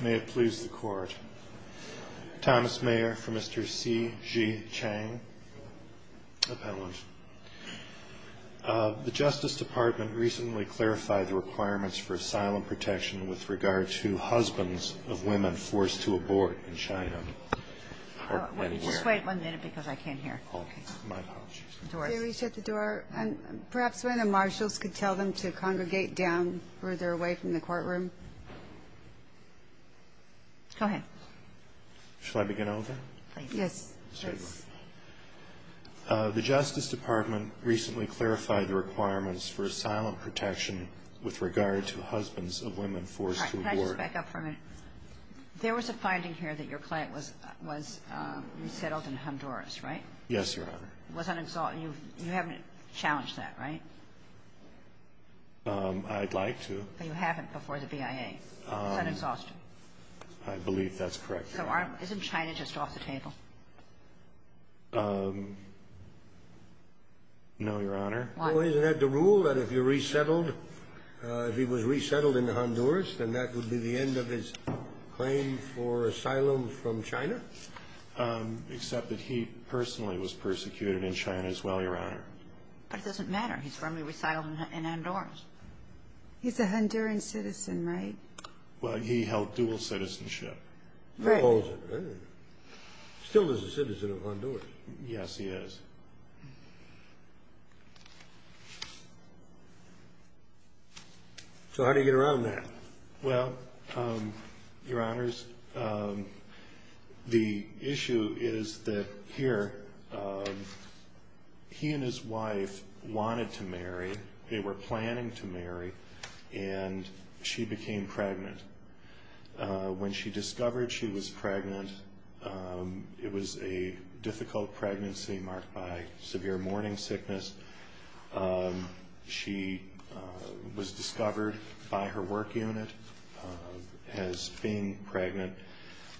May it please the Court. Thomas Mayer for Mr. C. G. Chang, Appellant. The Justice Department recently clarified the requirements for asylum protection with regard to husbands of women forced to abort in China. Or anywhere. Just wait one minute, because I can't hear. Oh, my apologies. They reach at the door, and perhaps one of the marshals could tell them to congregate down further away from the courtroom. Go ahead. Shall I begin over? Yes. The Justice Department recently clarified the requirements for asylum protection with regard to husbands of women forced to abort. Can I just back up for a minute? There was a finding here that your client was resettled in Honduras, right? Yes, Your Honor. You haven't challenged that, right? I'd like to. But you haven't before the BIA. It's an exhaustion. I believe that's correct, Your Honor. So isn't China just off the table? No, Your Honor. Well, isn't that the rule that if you're resettled, if he was resettled in Honduras, then that would be the end of his claim for asylum from China? Except that he personally was persecuted in China as well, Your Honor. But it doesn't matter. He's firmly resettled in Honduras. He's a Honduran citizen, right? Well, he held dual citizenship. Right. Still is a citizen of Honduras. Yes, he is. So how do you get around that? Well, Your Honors, the issue is that here, he and his wife wanted to marry. They were planning to marry, and she became pregnant. When she discovered she was pregnant, it was a difficult pregnancy marked by severe morning sickness. She was discovered by her work unit as being pregnant,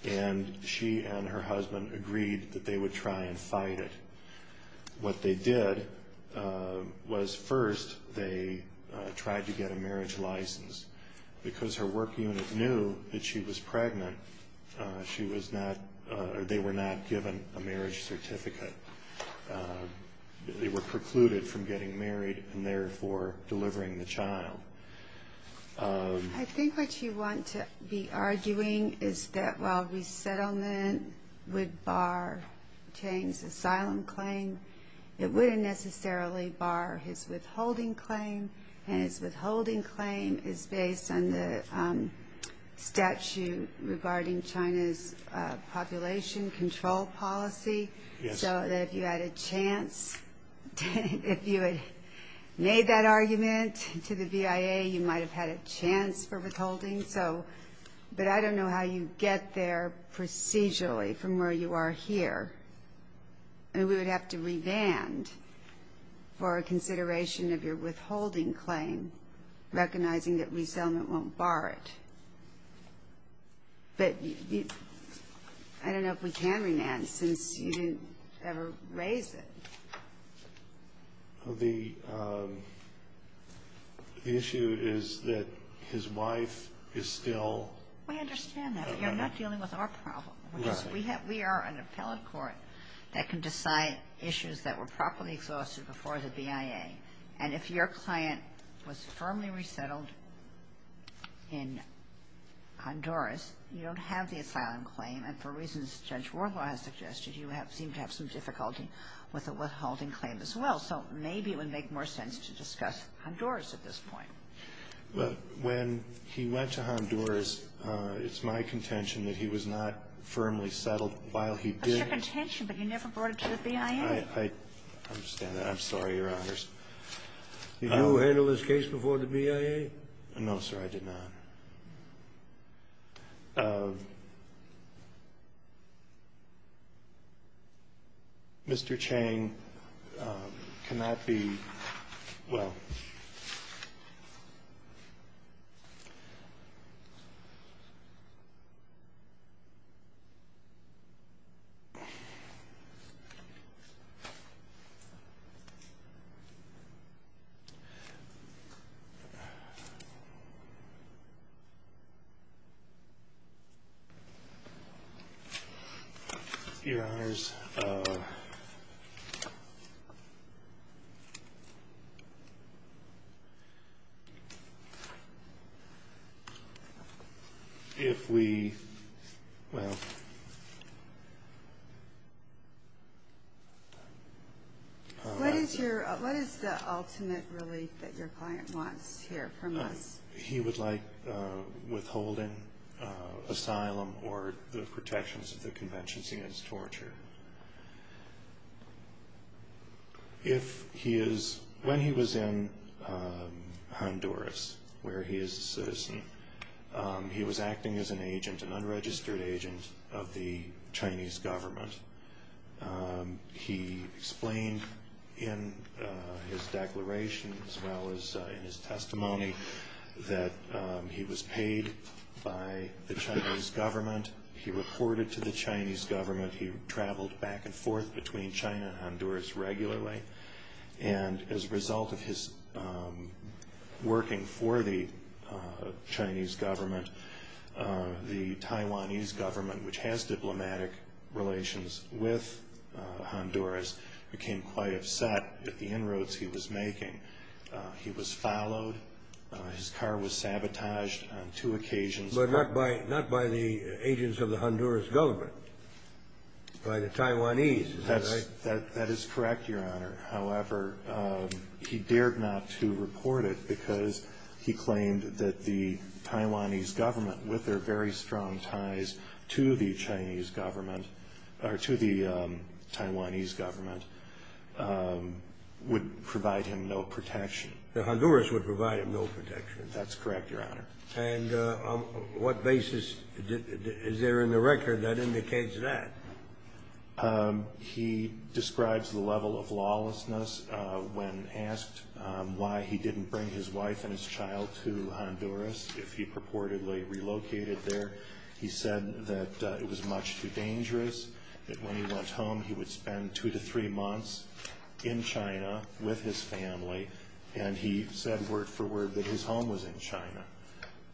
and she and her husband agreed that they would try and fight it. What they did was first they tried to get a marriage license. Because her work unit knew that she was pregnant, they were not given a marriage certificate. They were precluded from getting married and therefore delivering the child. I think what you want to be arguing is that while resettlement would bar Chang's asylum claim, it wouldn't necessarily bar his withholding claim, and his withholding claim is based on the statute regarding China's population control policy. Yes. So that if you had a chance, if you had made that argument to the VIA, you might have had a chance for withholding. But I don't know how you get there procedurally from where you are here. We would have to revand for consideration of your withholding claim, recognizing that resettlement won't bar it. But I don't know if we can revand since you didn't ever raise it. The issue is that his wife is still at home. We understand that, but you're not dealing with our problem. Right. Because we are an appellate court that can decide issues that were properly exhausted before the VIA. And if your client was firmly resettled in Honduras, you don't have the asylum claim. And for reasons Judge Warlaw has suggested, you seem to have some difficulty with a withholding claim as well. So maybe it would make more sense to discuss Honduras at this point. Well, when he went to Honduras, it's my contention that he was not firmly settled while he did. That's your contention, but you never brought it to the VIA. I understand that. I'm sorry, Your Honors. Did you handle this case before the VIA? No, sir, I did not. Mr. Chang, can that be ‑‑ well. Your Honors, if we ‑‑ well. What is the ultimate relief that your client wants here from us? He would like withholding asylum or the protections of the conventions against torture. If he is ‑‑ when he was in Honduras, where he is a citizen, he was acting as an agent, an unregistered agent of the Chinese government. He explained in his declaration as well as in his testimony that he was paid by the Chinese government. He reported to the Chinese government. He traveled back and forth between China and Honduras regularly. And as a result of his working for the Chinese government, the Taiwanese government, which has diplomatic relations with Honduras, became quite upset at the inroads he was making. He was followed. His car was sabotaged on two occasions. But not by the agents of the Honduras government, by the Taiwanese, is that right? That is correct, Your Honor. However, he dared not to report it because he claimed that the Taiwanese government, with their very strong ties to the Chinese government, or to the Taiwanese government, would provide him no protection. The Honduras would provide him no protection. That's correct, Your Honor. And on what basis is there in the record that indicates that? He describes the level of lawlessness when asked why he didn't bring his wife and his child to Honduras if he purportedly relocated there. He said that it was much too dangerous, that when he went home, he would spend two to three months in China with his family, and he said word for word that his home was in China.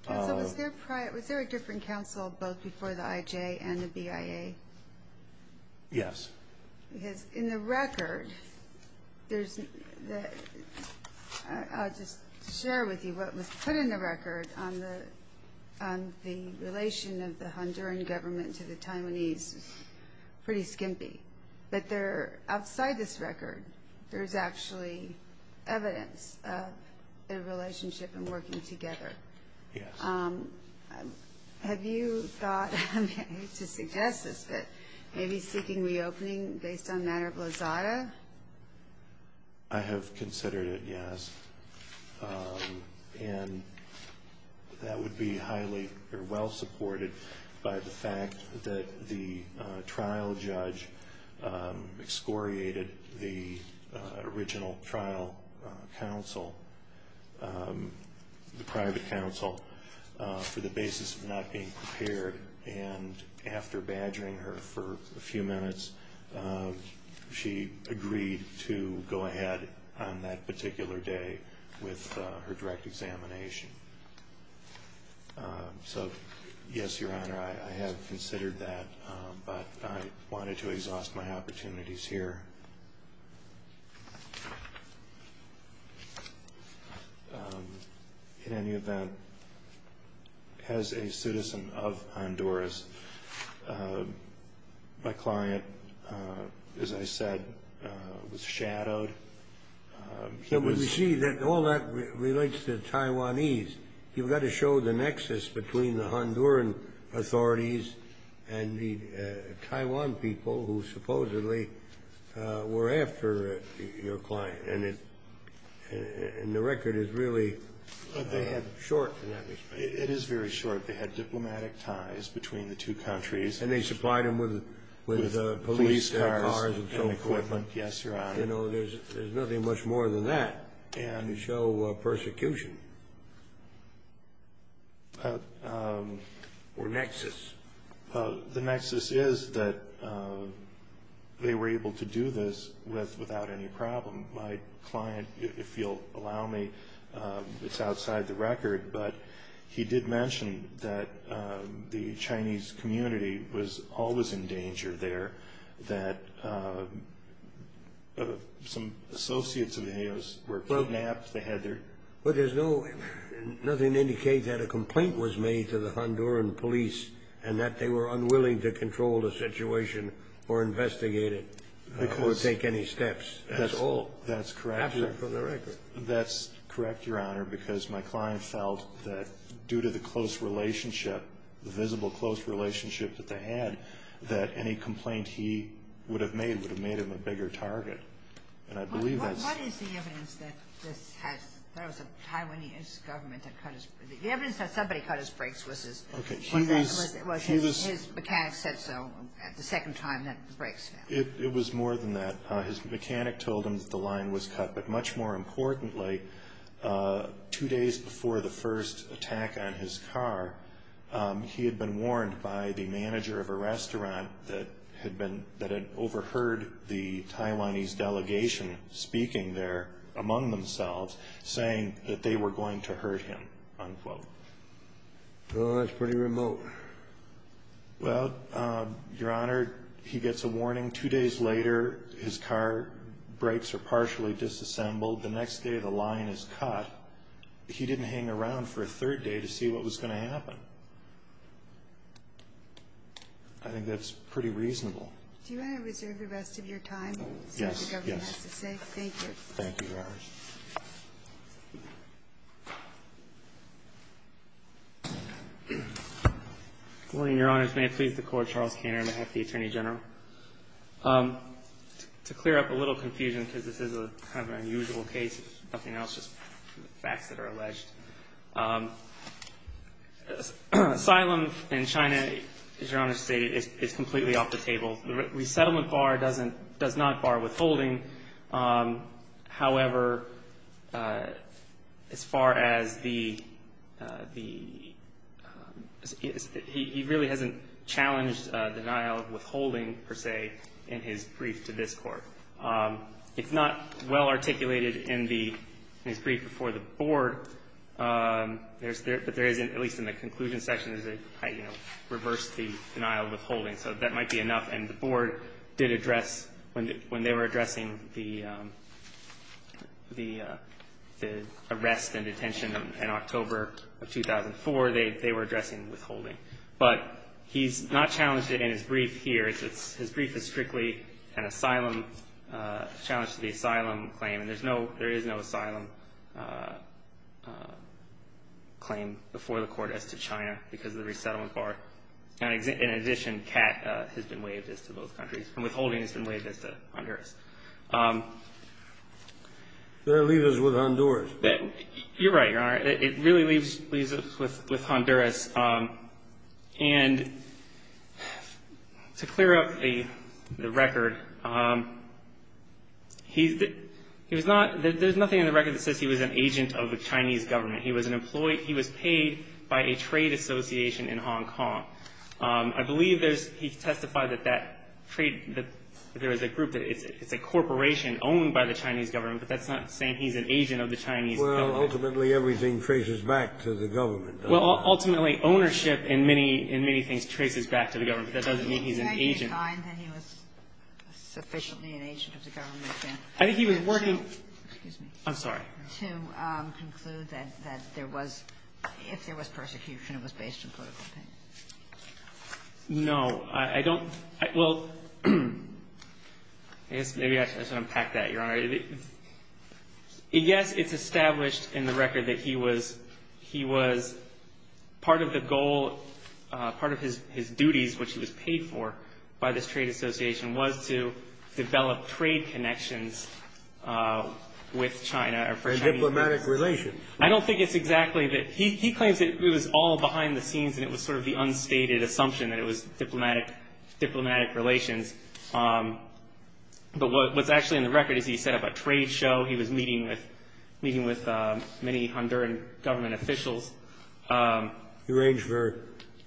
Counsel, was there a different counsel both before the IJ and the BIA? Yes. Because in the record, I'll just share with you what was put in the record on the relation of the Honduran government to the Taiwanese is pretty skimpy. But outside this record, there's actually evidence of their relationship and working together. Yes. Have you thought to suggest this, that maybe seeking reopening based on matter of lazada? I have considered it, yes. And that would be highly or well supported by the fact that the trial judge excoriated the original trial counsel, the private counsel, for the basis of not being prepared, and after badgering her for a few minutes, she agreed to go ahead on that particular day with her direct examination. So, yes, Your Honor, I have considered that, but I wanted to exhaust my opportunities here. In any event, as a citizen of Honduras, my client, as I said, was shadowed. But we see that all that relates to Taiwanese. You've got to show the nexus between the Honduran authorities and the Taiwan people who supposedly were after your client. And the record is really short. It is very short. They had diplomatic ties between the two countries. And they supplied him with police cars and so forth. Yes, Your Honor. There's nothing much more than that to show persecution or nexus. The nexus is that they were able to do this without any problem. My client, if you'll allow me, it's outside the record, but he did mention that the Chinese community was always in danger there, that some associates of his were kidnapped. But there's nothing to indicate that a complaint was made to the Honduran police and that they were unwilling to control the situation or investigate it or take any steps. That's all. That's correct, Your Honor. Absent from the record. That's correct, Your Honor, because my client felt that due to the close relationship, the visible close relationship that they had, that any complaint he would have made would have made him a bigger target. What is the evidence that this has – that it was a Taiwanese government that cut his – the evidence that somebody cut his brakes was his – Okay, he was – Well, his mechanic said so the second time that the brakes fell. It was more than that. His mechanic told him that the line was cut. But much more importantly, two days before the first attack on his car, he had been warned by the manager of a restaurant that had been – that had overheard the Taiwanese delegation speaking there among themselves, saying that they were going to hurt him, unquote. Oh, that's pretty remote. Well, Your Honor, he gets a warning. Two days later, his car brakes are partially disassembled. The next day, the line is cut. He didn't hang around for a third day to see what was going to happen. I think that's pretty reasonable. Do you want to reserve the rest of your time? Yes, yes. That's what the government has to say. Thank you. Thank you, Your Honor. Good morning, Your Honors. May it please the Court, Charles Kanner, on behalf of the Attorney General. To clear up a little confusion, because this is kind of an unusual case, if nothing else, just facts that are alleged. Asylum in China, as Your Honor stated, is completely off the table. The resettlement bar does not bar withholding. However, as far as the – he really hasn't challenged denial of withholding, per se, in his brief to this Court. If not well articulated in his brief before the Board, there is, at least in the conclusion section, is it reversed the denial of withholding. So that might be enough. And the Board did address, when they were addressing the arrest and detention in October of 2004, they were addressing withholding. But he's not challenged it in his brief here. His brief is strictly an asylum – a challenge to the asylum claim. And there is no asylum claim before the Court as to China because of the resettlement bar. In addition, CAT has been waived as to both countries. And withholding has been waived as to Honduras. They're leaving us with Honduras. You're right, Your Honor. It really leaves us with Honduras. And to clear up the record, he was not – there's nothing in the record that says he was an agent of the Chinese government. He was an employee – he was paid by a trade association in Hong Kong. I believe there's – he testified that that trade – that there is a group – it's a corporation owned by the Chinese government, but that's not saying he's an agent of the Chinese government. Well, ultimately, everything traces back to the government. Well, ultimately, ownership in many – in many things traces back to the government, but that doesn't mean he's an agent. Can you say he was sufficiently an agent of the government? I think he was working – Excuse me. I'm sorry. To conclude that there was – if there was persecution, it was based on political opinion. No, I don't – well, I guess maybe I should unpack that, Your Honor. Yes, it's established in the record that he was part of the goal – part of his duties, which he was paid for by this trade association, was to develop trade connections with China – And diplomatic relations. I don't think it's exactly that – he claims that it was all behind the scenes and it was sort of the unstated assumption that it was diplomatic relations. But what's actually in the record is he set up a trade show. He was meeting with many Honduran government officials. He arranged for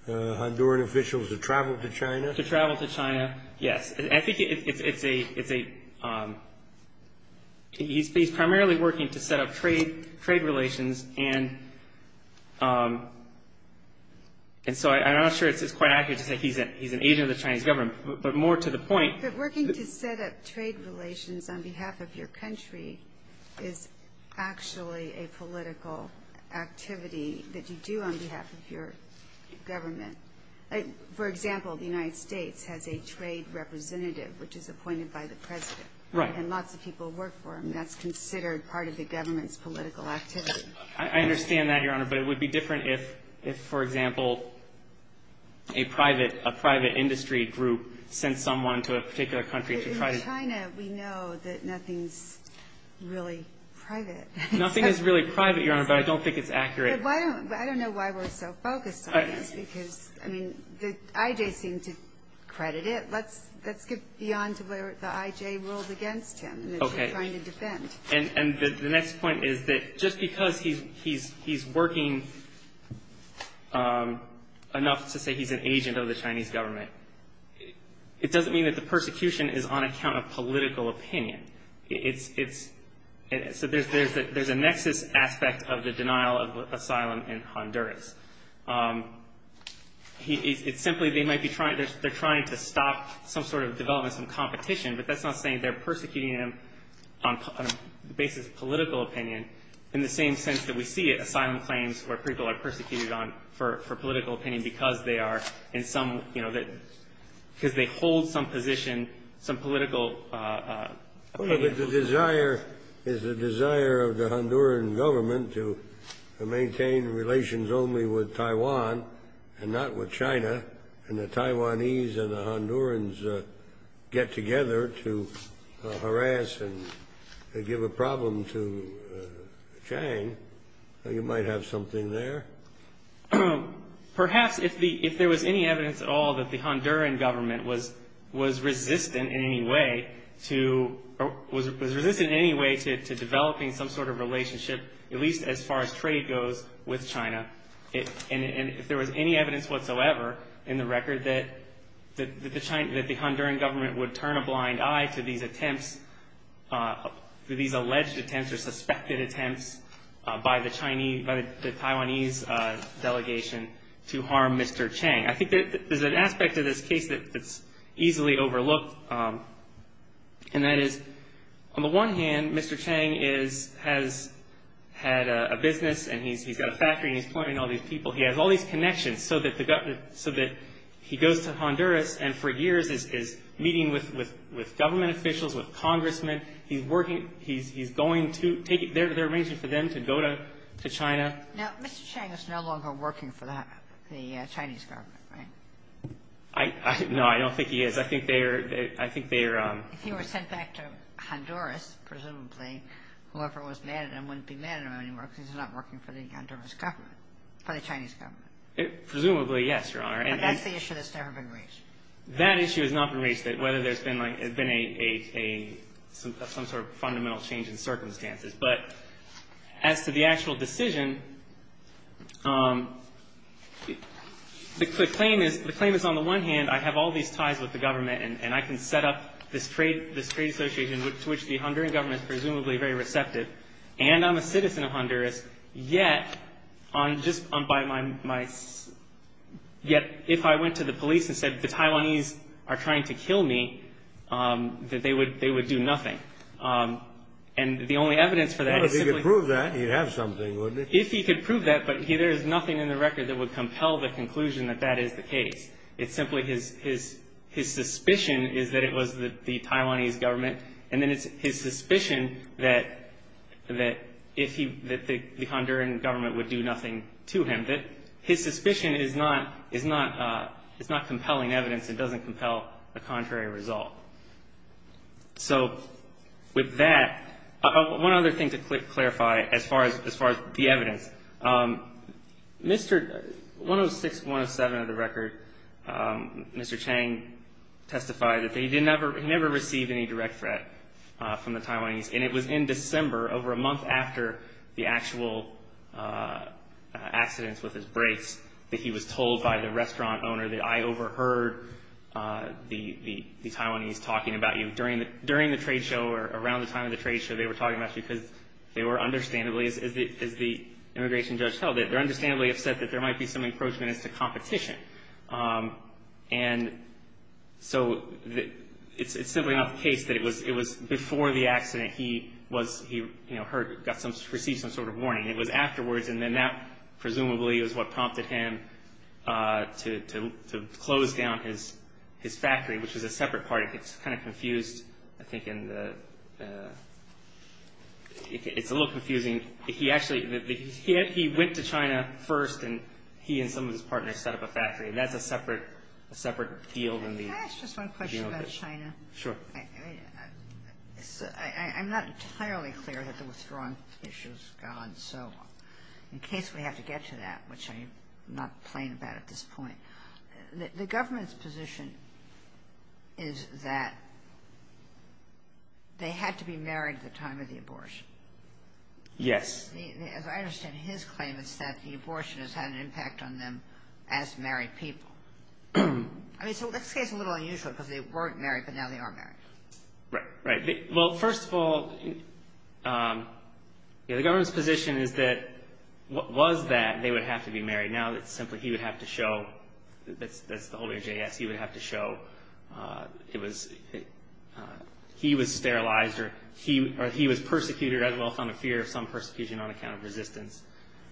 Honduran officials to travel to China? To travel to China, yes. I think it's a – he's primarily working to set up trade relations, and so I'm not sure it's quite accurate to say he's an agent of the Chinese government. But more to the point – But working to set up trade relations on behalf of your country is actually a political activity that you do on behalf of your government. For example, the United States has a trade representative, which is appointed by the president. Right. And lots of people work for him. That's considered part of the government's political activity. I understand that, Your Honor, but it would be different if, for example, a private industry group sent someone to a particular country to try to – In China, we know that nothing's really private. Nothing is really private, Your Honor, but I don't think it's accurate. I don't know why we're so focused on this because, I mean, the IJs seem to credit it. Let's skip beyond to where the IJ ruled against him and is trying to defend. And the next point is that just because he's working enough to say he's an agent of the Chinese government, it doesn't mean that the persecution is on account of political opinion. So there's a nexus aspect of the denial of asylum in Honduras. It's simply they might be trying to stop some sort of development, some competition, but that's not saying they're persecuting him on the basis of political opinion in the same sense that we see asylum claims where people are persecuted for political opinion because they are in some – because they hold some position, some political opinion. But the desire is the desire of the Honduran government to maintain relations only with Taiwan and not with China, and the Taiwanese and the Hondurans get together to harass and give a problem to Chiang. You might have something there. Perhaps if there was any evidence at all that the Honduran government was resistant in any way to – was resistant in any way to developing some sort of relationship, at least as far as trade goes, with China, and if there was any evidence whatsoever in the record that the Honduran government would turn a blind eye to these attempts, these alleged attempts or suspected attempts by the Taiwanese delegation to harm Mr. Chiang. I think there's an aspect of this case that's easily overlooked, and that is, on the one hand, Mr. Chiang has had a business and he's got a factory and he's employing all these people. He has all these connections so that the – so that he goes to Honduras and for years is meeting with government officials, with congressmen. He's working – he's going to – they're arranging for them to go to China. Now, Mr. Chiang is no longer working for the Chinese government, right? I – no, I don't think he is. I think they are – I think they are – If he were sent back to Honduras, presumably, whoever was mad at him wouldn't be mad at him anymore because he's not working for the Honduras government – for the Chinese government. Presumably, yes, Your Honor. And that's the issue that's never been raised. That issue has not been raised, that whether there's been a – some sort of fundamental change in circumstances. But as to the actual decision, the claim is – the claim is, on the one hand, I have all these ties with the government and I can set up this trade association to which the Honduran government is presumably very receptive, and I'm a citizen of Honduras, yet on just – by my – yet if I went to the police and said the Taiwanese are trying to kill me, that they would – they would do nothing. And the only evidence for that is simply – Well, if he could prove that, he'd have something, wouldn't he? If he could prove that, but there is nothing in the record that would compel the conclusion that that is the case. It's simply his suspicion is that it was the Taiwanese government, and then it's his suspicion that if he – that the Honduran government would do nothing to him. His suspicion is not compelling evidence. It doesn't compel a contrary result. So with that, one other thing to clarify as far as the evidence. Mr. – 106, 107 of the record, Mr. Chang testified that he didn't ever – he never received any direct threat from the Taiwanese, and it was in December over a month after the actual accidents with his brakes that he was told by the restaurant owner that I overheard the Taiwanese talking about you. During the – during the trade show or around the time of the trade show, they were talking about you because they were understandably, as the immigration judge held it, they're understandably upset that there might be some encroachment as to competition. And so it's simply not the case that it was before the accident he was – he, you know, heard – got some – received some sort of warning. It was afterwards, and then that presumably is what prompted him to close down his factory, which is a separate party. It's kind of confused, I think, in the – it's a little confusing. He actually – he went to China first, and he and some of his partners set up a factory. And that's a separate – a separate field in the – Can I ask just one question about China? Sure. I'm not entirely clear that the withdrawing issue is gone. So in case we have to get to that, which I'm not playing about at this point, the government's position is that they had to be married at the time of the abortion. Yes. As I understand his claim, it's that the abortion has had an impact on them as married people. I mean, so that's a little unusual because they weren't married, but now they are married. Right, right. Well, first of all, the government's position is that was that they would have to be married. Now it's simply he would have to show – that's the whole of JAS. He would have to show it was – he was sterilized or he was persecuted, as well as found a fear of some persecution on account of resistance,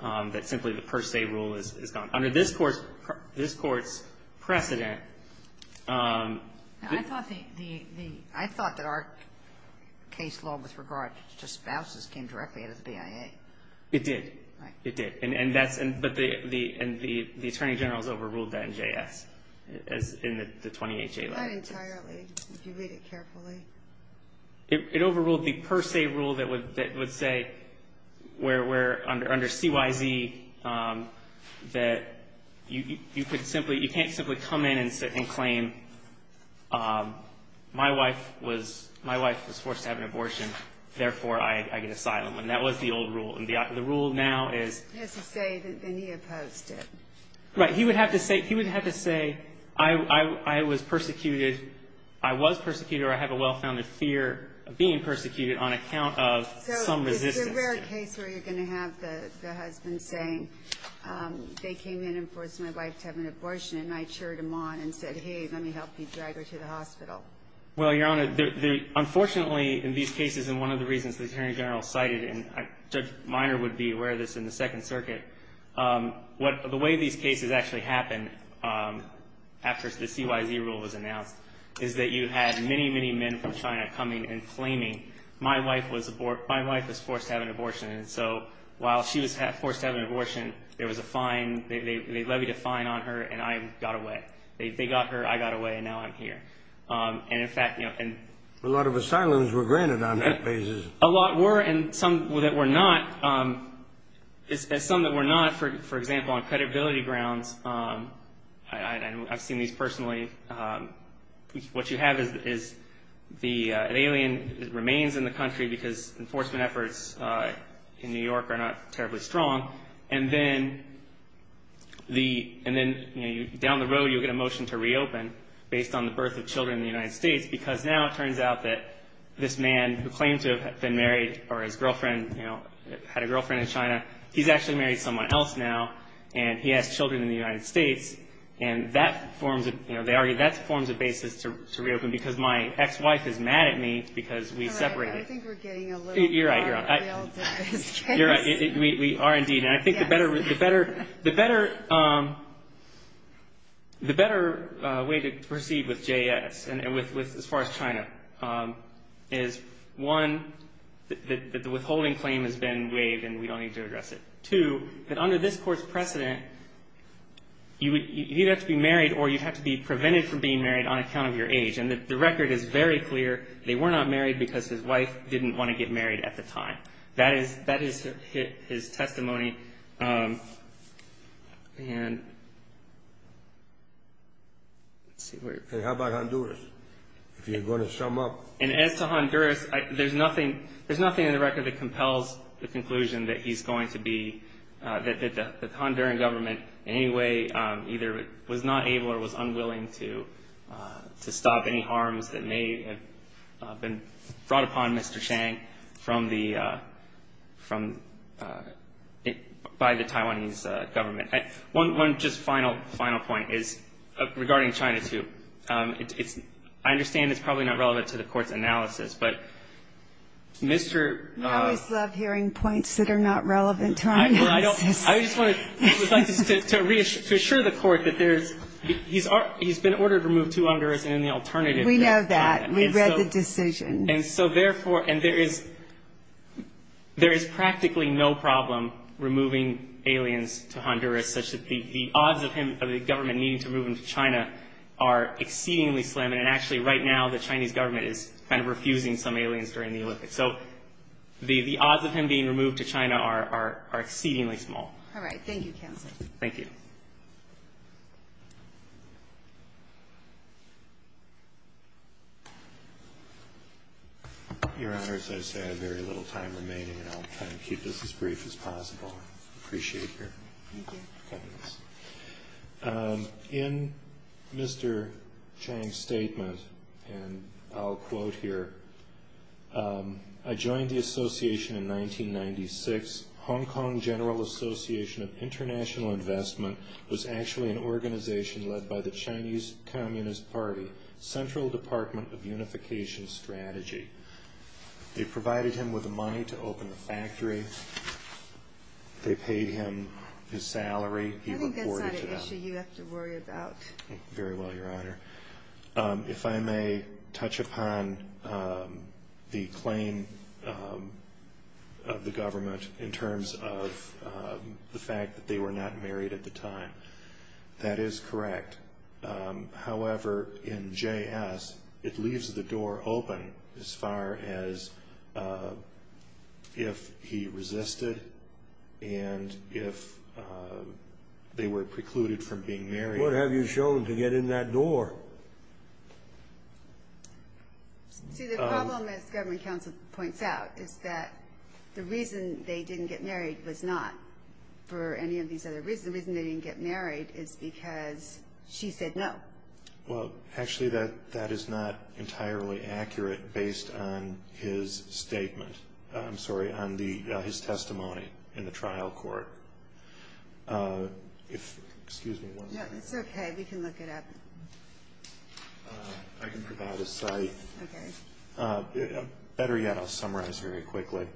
that simply the per se rule is gone. Under this Court's precedent – I thought the – I thought that our case law with regard to spouses came directly out of the BIA. It did. It did. And that's – but the Attorney General's overruled that in JAS, as in the 20HA legislation. Not entirely. If you read it carefully. It overruled the per se rule that would say where under CYZ that you could simply – you can't simply come in and claim my wife was forced to have an abortion, therefore I get asylum. And that was the old rule. And the rule now is – He has to say that then he opposed it. Right. He would have to say I was persecuted or I have a well-founded fear of being persecuted on account of some resistance. So is there a rare case where you're going to have the husband saying they came in and forced my wife to have an abortion and I cheered them on and said, hey, let me help you drag her to the hospital? Well, Your Honor, unfortunately in these cases and one of the reasons the Attorney General cited, and Judge Minor would be aware of this in the Second Circuit, the way these cases actually happen after the CYZ rule was announced is that you had many, many men from China coming and claiming my wife was forced to have an abortion. And so while she was forced to have an abortion, there was a fine. They levied a fine on her and I got away. They got her, I got away, and now I'm here. And in fact – A lot of asylums were granted on that basis. A lot were and some that were not. Some that were not, for example, on credibility grounds, I've seen these personally, what you have is an alien remains in the country because enforcement efforts in New York are not terribly strong, and then down the road you'll get a motion to reopen based on the birth of children in the United States because now it turns out that this man who claimed to have been married or had a girlfriend in China, he's actually married someone else now and he has children in the United States, and that forms a basis to reopen because my ex-wife is mad at me because we separated. I think we're getting a little far-field in this case. You're right. We are indeed. I think the better way to proceed with JS as far as China is, one, that the withholding claim has been waived and we don't need to address it. Two, that under this court's precedent, you'd have to be married or you'd have to be prevented from being married on account of your age, and the record is very clear they were not married because his wife didn't want to get married at the time. That is his testimony. How about Honduras, if you're going to sum up? As to Honduras, there's nothing in the record that compels the conclusion that he's going to be, that the Honduran government in any way either was not able or was unwilling to stop any harms that may have been brought upon Mr. Chang from the, by the Taiwanese government. One just final point is regarding China, too. I understand it's probably not relevant to the Court's analysis, but Mr. I always love hearing points that are not relevant to our analysis. I just wanted to reassure the Court that there's, he's been ordered to remove two Honduras and the alternative. We know that. We read the decision. And so therefore, and there is practically no problem removing aliens to Honduras, such that the odds of him, of the government needing to move him to China are exceedingly slim, and actually right now the Chinese government is kind of refusing some aliens during the Olympics. So the odds of him being removed to China are exceedingly small. All right. Thank you, counsel. Thank you. Your Honor, as I say, I have very little time remaining, and I'll try to keep this as brief as possible. I appreciate your kindness. In Mr. Chang's statement, and I'll quote here, I joined the association in 1996. Hong Kong General Association of International Investment was actually an organization led by the Chinese Communist Party, the Central Department of Unification Strategy. They provided him with the money to open the factory. They paid him his salary. I think that's not an issue you have to worry about. Very well, Your Honor. If I may touch upon the claim of the government in terms of the fact that they were not married at the time. That is correct. However, in JS, it leaves the door open as far as if he resisted and if they were precluded from being married. What have you shown to get in that door? See, the problem, as government counsel points out, is that the reason they didn't get married was not for any of these other reasons. The reason they didn't get married is because she said no. Well, actually, that is not entirely accurate based on his statement. I'm sorry, on his testimony in the trial court. Excuse me one moment. It's okay. We can look it up. I can provide a site. Okay. Better yet, I'll summarize very quickly.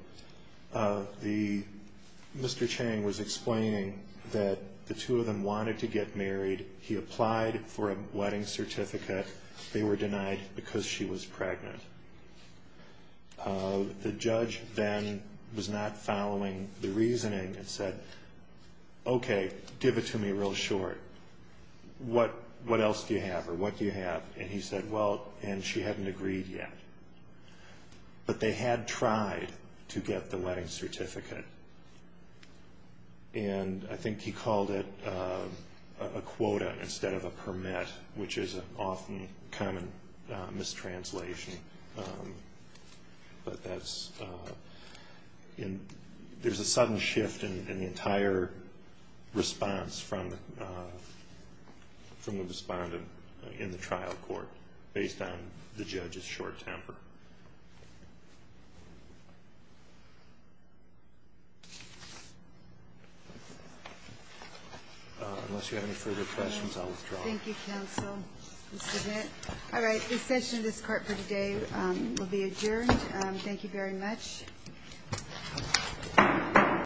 Mr. Chang was explaining that the two of them wanted to get married. He applied for a wedding certificate. They were denied because she was pregnant. The judge then was not following the reasoning and said, okay, give it to me real short. What else do you have or what do you have? And he said, well, and she hadn't agreed yet. But they had tried to get the wedding certificate. And I think he called it a quota instead of a permit, which is an often common mistranslation. But there's a sudden shift in the entire response from the respondent in the trial court based on the judge's short temper. Unless you have any further questions, I'll withdraw. Thank you, counsel. All right. The session of this court for today will be adjourned. Thank you very much.